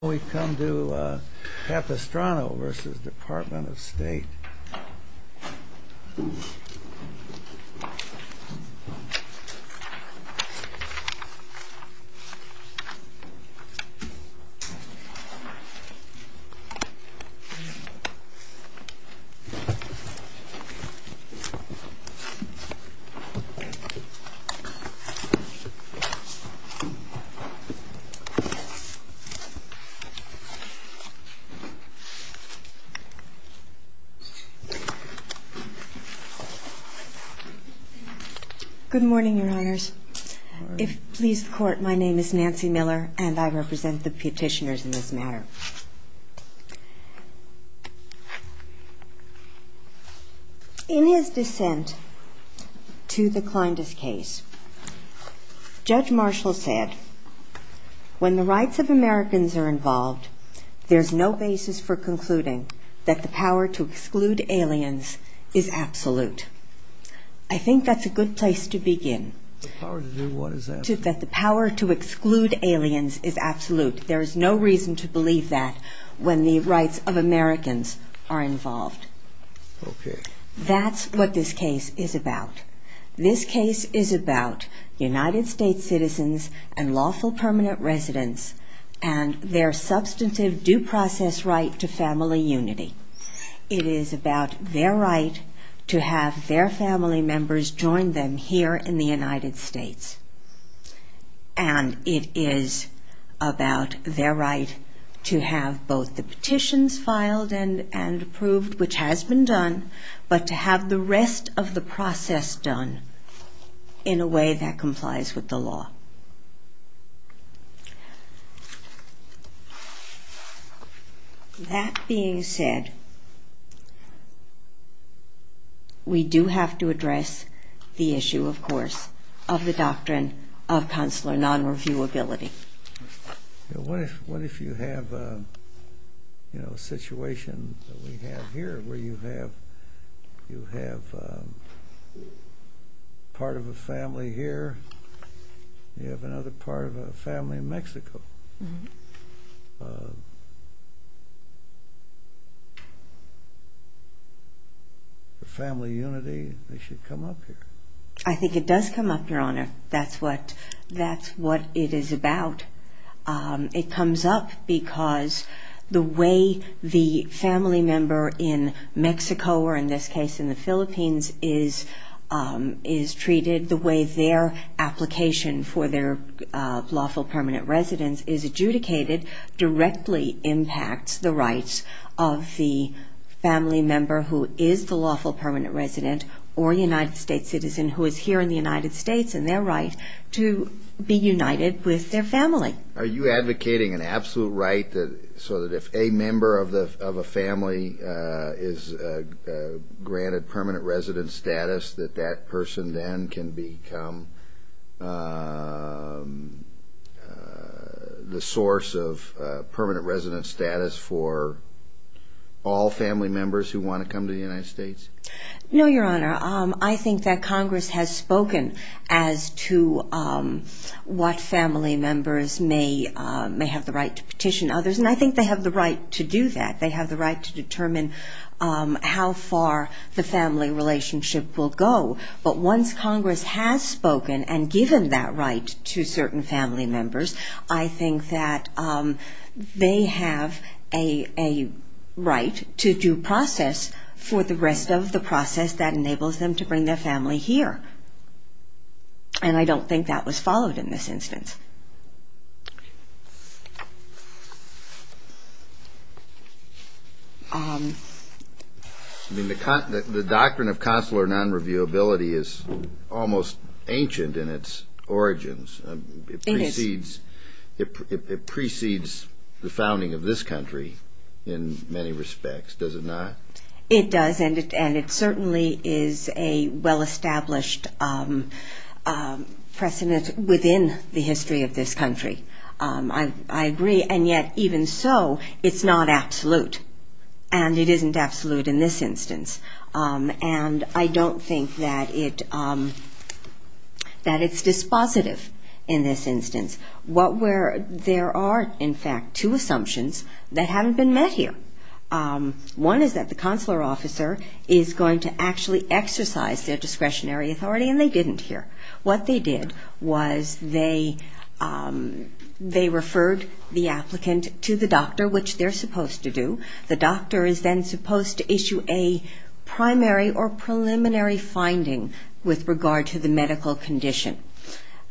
We come to Capistrano v. Department of State Good morning, Your Honors. If it pleases the Court, my name is Nancy Miller, and I represent the petitioners in this matter. In his dissent to the Clindus case, Judge Marshall said, When the rights of Americans are involved, there is no basis for concluding that the power to exclude aliens is absolute. I think that's a good place to begin. The power to exclude aliens is absolute. There is no reason to believe that when the rights of Americans are involved. That's what this case is about. This case is about United States citizens and lawful permanent residents and their substantive due process right to family unity. It is about their right to have their family members join them here in the United States. And it is about their right to have both the petitions filed and approved, which has been done, but to have the rest of the process done in a way that complies with the law. That being said, we do have to address the issue, of course, of the doctrine of consular non-reviewability. What if you have a situation that we have here, where you have part of a family here, and you have another part of a family in Mexico? For family unity, they should come up here. I think it does come up, Your Honor. That's what it is about. It comes up because the way the family member in Mexico, or in this case in the Philippines, is treated, the way their application for their lawful permanent residence is adjudicated, directly impacts the rights of the family member who is the lawful permanent resident or United States citizen who is here in the United States and their right to be united with their family. Are you advocating an absolute right so that if a member of a family is granted permanent resident status, that that person then can become the source of permanent resident status for all family members who want to come to the United States? No, Your Honor. I think that Congress has spoken as to what family members may have the right to petition others, and I think they have the right to do that. They have the right to determine how far the family relationship will go, but once Congress has spoken and given that right to certain family members, I think that they have a right to due process for the rest of the process that enables them to bring their family here, and I don't think that was followed in this instance. The doctrine of consular non-reviewability is almost ancient in its origins. It precedes the founding of this country in many respects, does it not? It does, and it certainly is a well-established precedent within the history of this country. I agree, and yet even so, it's not absolute, and it isn't absolute in this instance, and I don't think that it's dispositive in this instance. There are, in fact, two assumptions that haven't been met here. One is that the consular officer is going to actually exercise their discretionary authority, and they didn't here. What they did was they referred the applicant to the doctor, which they're supposed to do. The doctor is then supposed to issue a primary or preliminary finding with regard to the medical condition.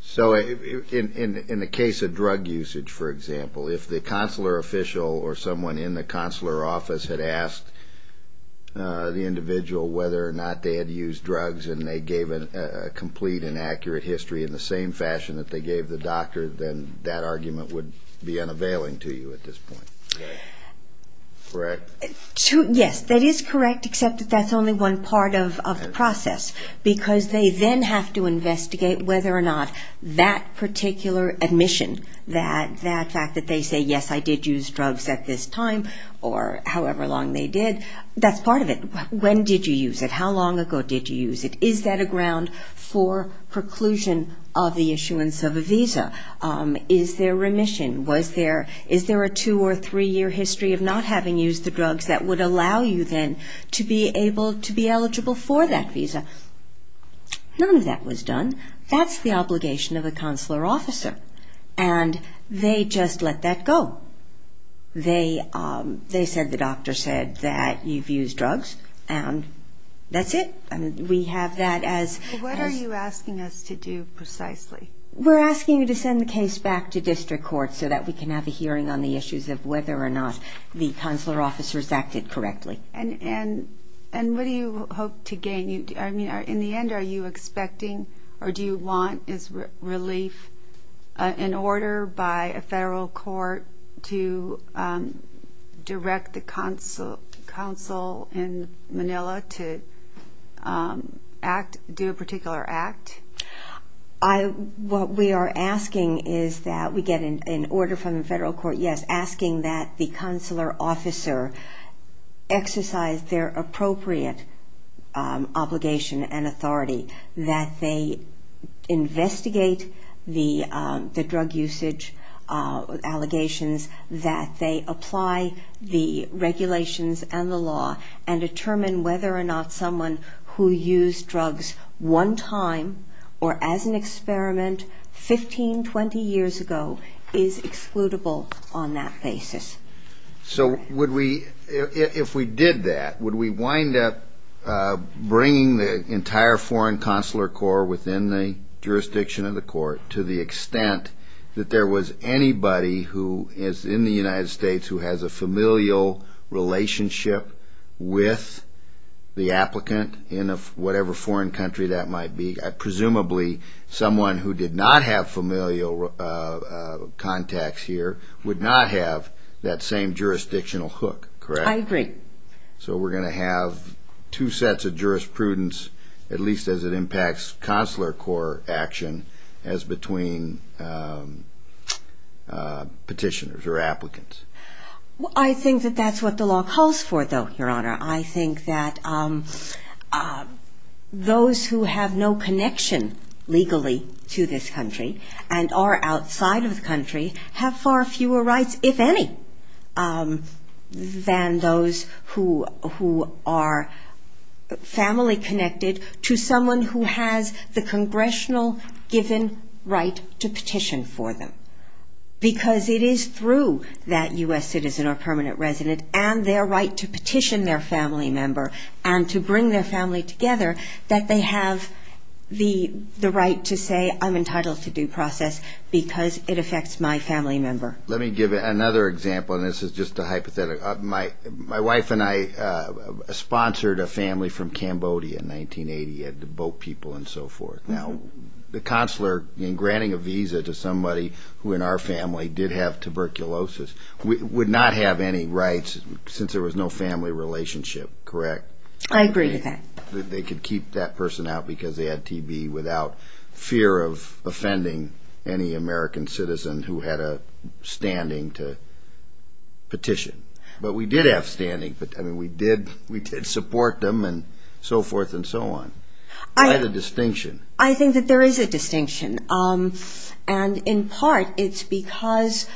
So in the case of drug usage, for example, if the consular official or someone in the consular office had asked the individual whether or not they had used drugs, and they gave a complete and accurate history in the same fashion that they gave the doctor, then that argument would be unavailing to you at this point, correct? Yes, that is correct, except that that's only one part of the process, because they then have to investigate whether or not that particular admission, that fact that they say, yes, I did use drugs at this time or however long they did, that's part of it. When did you use it? How long ago did you use it? Is that a ground for preclusion of the issuance of a visa? Is there remission? Is there a two- or three-year history of not having used the drugs that would allow you then to be able to be eligible for that visa? None of that was done. That's the obligation of a consular officer, and they just let that go. They said the doctor said that you've used drugs, and that's it. We have that as... What are you asking us to do precisely? We're asking you to send the case back to district court so that we can have a hearing on the issues of whether or not the consular officers acted correctly. And what do you hope to gain? In the end, are you expecting or do you want relief in order by a federal court to direct the council in Manila to do a particular act? What we are asking is that we get an order from the federal court, yes, asking that the consular officer exercise their appropriate obligation and authority, that they investigate the drug usage allegations, that they apply the regulations and the law, and determine whether or not someone who used drugs one time, or as an experiment 15, 20 years ago, is excludable on that basis. So would we, if we did that, would we wind up bringing the entire foreign consular corps within the jurisdiction of the court to the extent that there was anybody who is in the United States who has a familial relationship with the applicant in whatever foreign country that might be? Presumably, someone who did not have familial contacts here would not have that same jurisdictional hook, correct? I agree. So we're going to have two sets of jurisprudence, at least as it impacts consular corps action, as between petitioners or applicants. I think that that's what the law calls for, though, Your Honor. I think that those who have a connection legally to this country, and are outside of the country, have far fewer rights, if any, than those who are family-connected to someone who has the congressional given right to petition for them. Because it is through that U.S. citizen or permanent resident, and their right to petition their family member, and to bring their family together, that they have the right to petition. And they have the right to say, I'm entitled to due process, because it affects my family member. Let me give another example, and this is just a hypothetical. My wife and I sponsored a family from Cambodia in 1980, had to boat people and so forth. Now, the consular, in granting a visa to somebody who in our family did have tuberculosis, would not have any rights, since there was no family relationship, correct? I agree with that. They could keep that person out because they had TB, without fear of offending any American citizen who had a standing to petition. But we did have standing. I mean, we did support them, and so forth and so on. I think that there is a distinction. And in part, it's because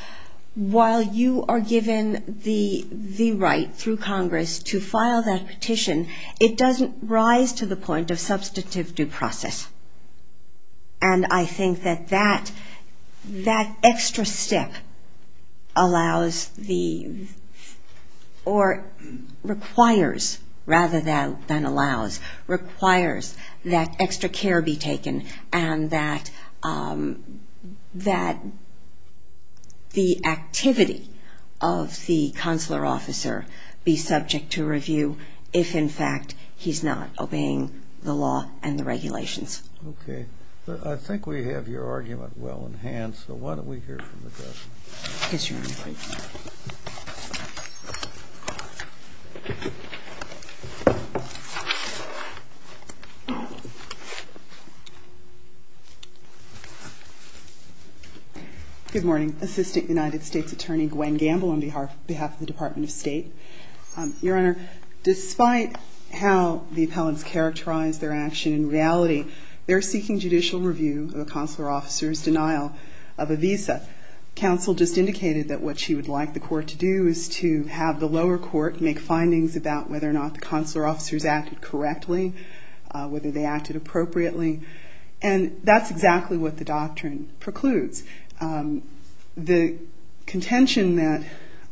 while you are given the right through Congress to file that petition, it doesn't rise to the point of substantive due process. And I think that that extra step allows the, or requires, rather than allows, requires that extra care be taken, and that the U.S. citizen has the right to petition. That the activity of the consular officer be subject to review, if in fact he's not obeying the law and the regulations. Okay. I think we have your argument well in hand, so why don't we hear from the President. Good morning, Assistant United States Attorney Gwen Gamble on behalf of the Department of State. Your Honor, despite how the appellants characterize their action in reality, they're seeking judicial review of a consular officer's denial of a visa. Counsel just indicated that what she would like the court to do is to have the lower court make findings about whether or not the consular officers acted correctly, whether they acted appropriately. And that's exactly what the doctrine precludes. The contention that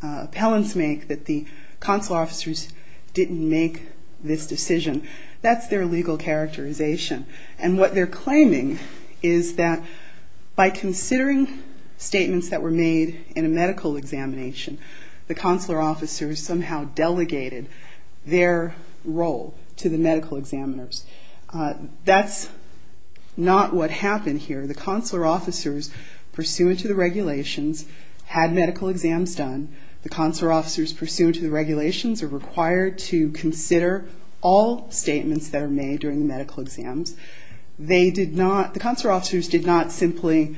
appellants make that the consular officers didn't make this decision, that's their legal characterization. And what they're claiming is that by considering statements that were made in a medical examination, the consular officers somehow delegated their role to the medical examiners. That's not what happened here. The consular officers pursuant to the regulations had medical exams done. The consular officers pursuant to the regulations are required to consider all statements that are made during the medical exams. They did not, the consular officers did not simply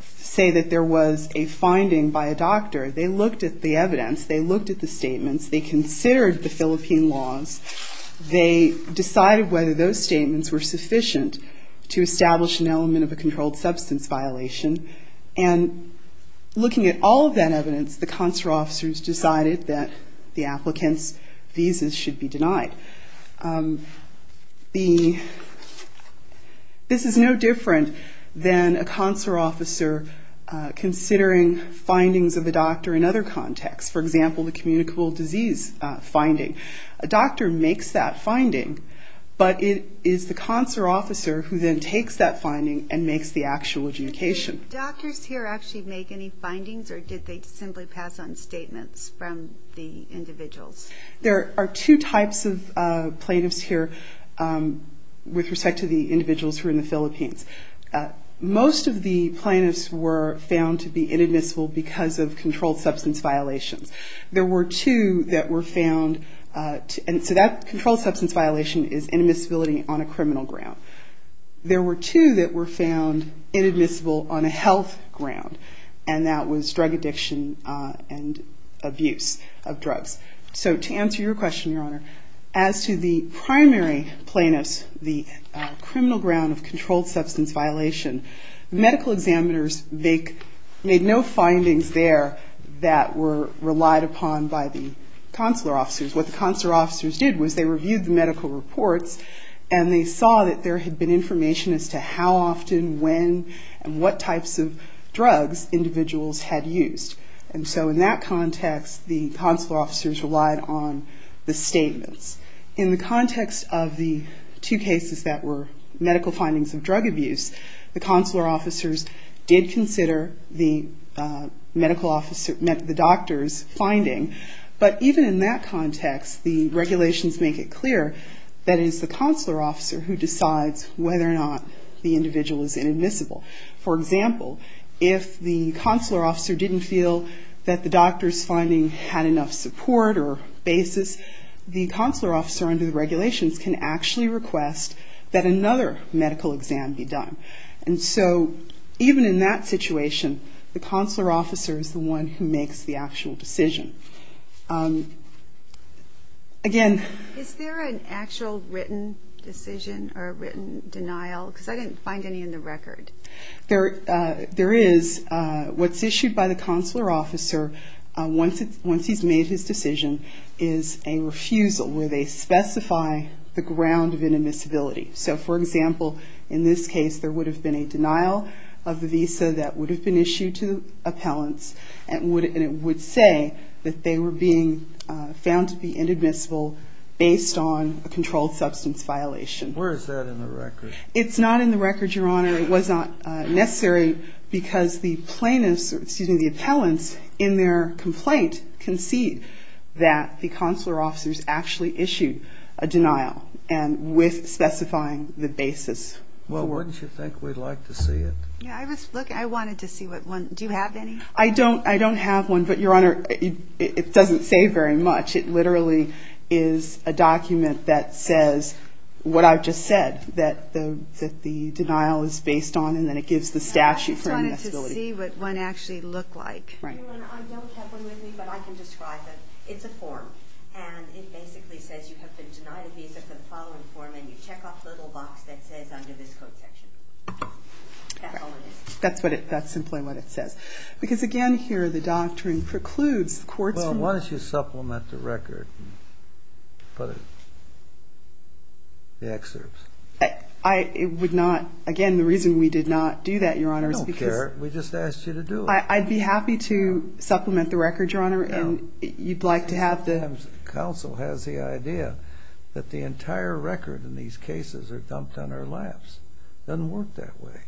say that there was a finding by a doctor. They looked at the evidence. They looked at the statements. They considered the Philippine laws. They decided whether those statements were sufficient to establish an element of a controlled substance violation. And looking at all of that evidence, the consular officers decided that the applicant's visas should be denied. This is no different than a consular officer considering findings of the doctor in other contexts. For example, the communicable disease finding. A doctor makes that finding, but it is the consular officer who then takes that finding and makes the actual adjudication. Do doctors here actually make any findings, or did they simply pass on statements from the individuals? There are two types of plaintiffs here with respect to the individuals who are in the Philippines. Most of the plaintiffs were found to be inadmissible because of controlled substance violations. There were two that were found, and so that controlled substance violation is inadmissibility on a criminal ground. There were two that were found inadmissible on a health ground, and that was drug addiction and abuse of drugs. So to answer your question, Your Honor, as to the primary plaintiffs, the criminal ground of controlled substance violation, medical examiners made no findings there that were relied upon by the consular officers. What the consular officers did was they reviewed the medical reports, and they saw that there had been information as to how often, when, and what types of drugs individuals had used. And so in that context, the consular officers relied on the statements. In the context of the two cases that were medical findings of drug abuse, the consular officers did consider the doctor's finding, but even in that context, the regulations make it clear that it is the consular officer who decides whether or not the individual is inadmissible. For example, if the consular officer didn't feel that the doctor's finding had enough support or basis, the consular officer under the regulations can actually request that another medical exam be done. And so even in that situation, the consular officer is the one who makes the actual decision. Again... Is there an actual written decision or written denial? Because I didn't find any in the record. There is. What's issued by the consular officer, once he's made his decision, is a refusal where they specify the ground of inadmissibility. So for example, in this case, there would have been a denial of the visa that would have been issued to the appellants, and it would say that they were being found to be inadmissible based on a controlled substance violation. Where is that in the record? It's not in the record, Your Honor. It was not necessary because the plaintiffs, excuse me, the appellants in their complaint concede that the consular officers actually issued a denial and with specifying the basis. Well, wouldn't you think we'd like to see it? Yeah, I was looking. I wanted to see one. Do you have any? I don't have one, but Your Honor, it doesn't say very much. It literally is a document that says what I've just said, that the denial is based on, and then it gives the statute for inadmissibility. I just wanted to see what one actually looked like. I don't have one with me, but I can describe it. It's a form. And it basically says you have been denied a visa for the following form, and you check off the little box that says under this code section. That's all it is. That's simply what it says. Because again here, the doctrine precludes the courts from... Well, why don't you supplement the record and put the excerpts? I would not. Again, the reason we did not do that, Your Honor, is because... Sometimes counsel has the idea that the entire record in these cases are dumped on our laps. It doesn't work that way.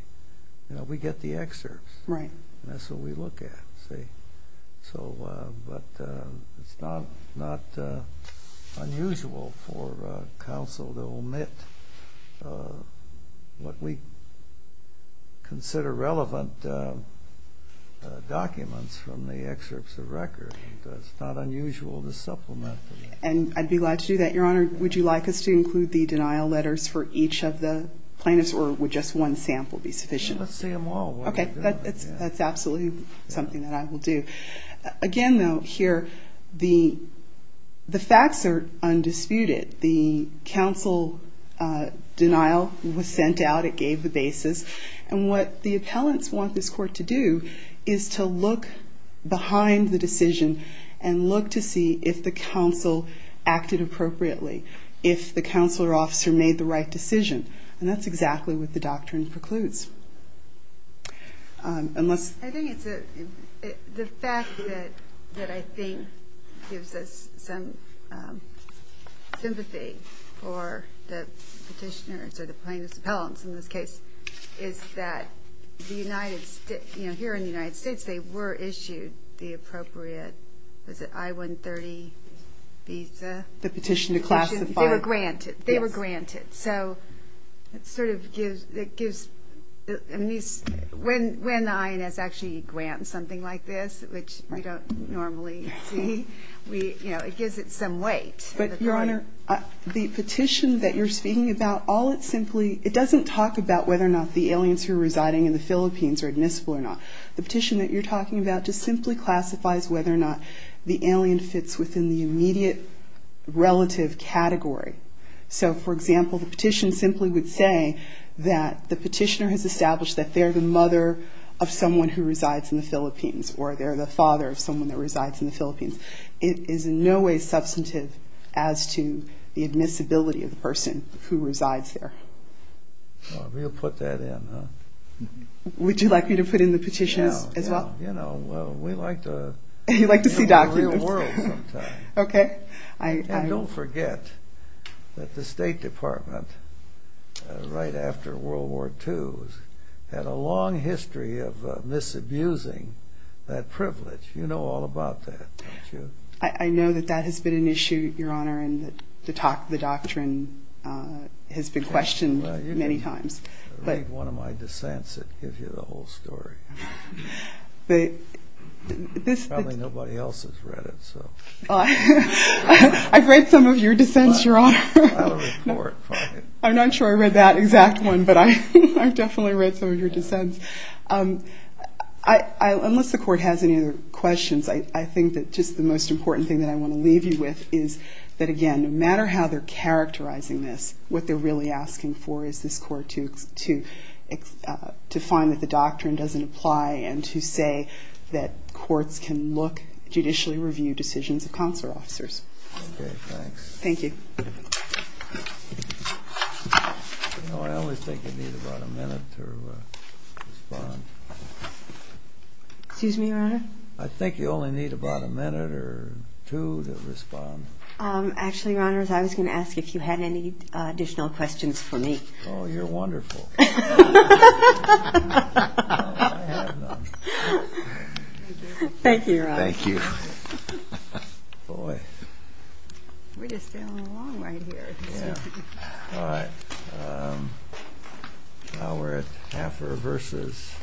We get the excerpts. That's what we look at. But it's not unusual for counsel to omit what we consider relevant documents from the excerpts of record. It's not unusual to supplement them. And I'd be glad to do that, Your Honor. Would you like us to include the denial letters for each of the plaintiffs, or would just one sample be sufficient? Let's see them all. That's absolutely something that I will do. Again, though, here, the facts are undisputed. The counsel denial was sent out. It gave the basis. And what the appellants want this court to do is to look behind the decision and look to see if the counsel acted appropriately, if the counselor officer made the right decision. And that's exactly what the doctrine precludes. The fact that I think gives us some reassurance for the petitioners, or the plaintiffs' appellants in this case, is that here in the United States, they were issued the appropriate, was it I-130 visa? The petition to classify. They were granted. They were granted. So it sort of gives... When the INS actually grants something like this, which we don't normally see, it gives it some weight. But, Your Honor, the petition that you're speaking about, it doesn't talk about whether or not the aliens who are residing in the Philippines are admissible or not. The petition that you're talking about just simply classifies whether or not the alien fits within the immediate relative category. So, for example, the petition simply would say that the petitioner has established that they're the mother of someone who resides in the Philippines, or they're the father of someone who resides in the Philippines. It is in no way substantive as to the admissibility of the person who resides there. We'll put that in, huh? Would you like me to put in the petition as well? Yeah, you know, we like to... You like to see documents. And don't forget that the State Department, right after World War II, had a long history of misabusing that privilege. You know all about that, don't you? I know that that has been an issue, Your Honor, and the doctrine has been questioned many times. I'll read one of my dissents that gives you the whole story. Probably nobody else has read it, so... I've read some of your dissents, Your Honor. I'm not sure I read that exact one, but I've definitely read some of your dissents. Unless the Court has any other questions, I think that just the most important thing that I want to leave you with is that, again, no matter how they're characterizing this, what they're really asking for is this Court to find that the doctrine doesn't apply and to say that courts can look, judicially review decisions of consular officers. Okay, thanks. Thank you. You know, I always think you need about a minute to respond. Excuse me, Your Honor? I think you only need about a minute or two to respond. Actually, Your Honor, I was going to ask if you had any additional questions for me. Oh, you're wonderful. Thank you, Your Honor. Thank you. Boy. We're just sailing along right here. Now we're at Hafer versus Weber.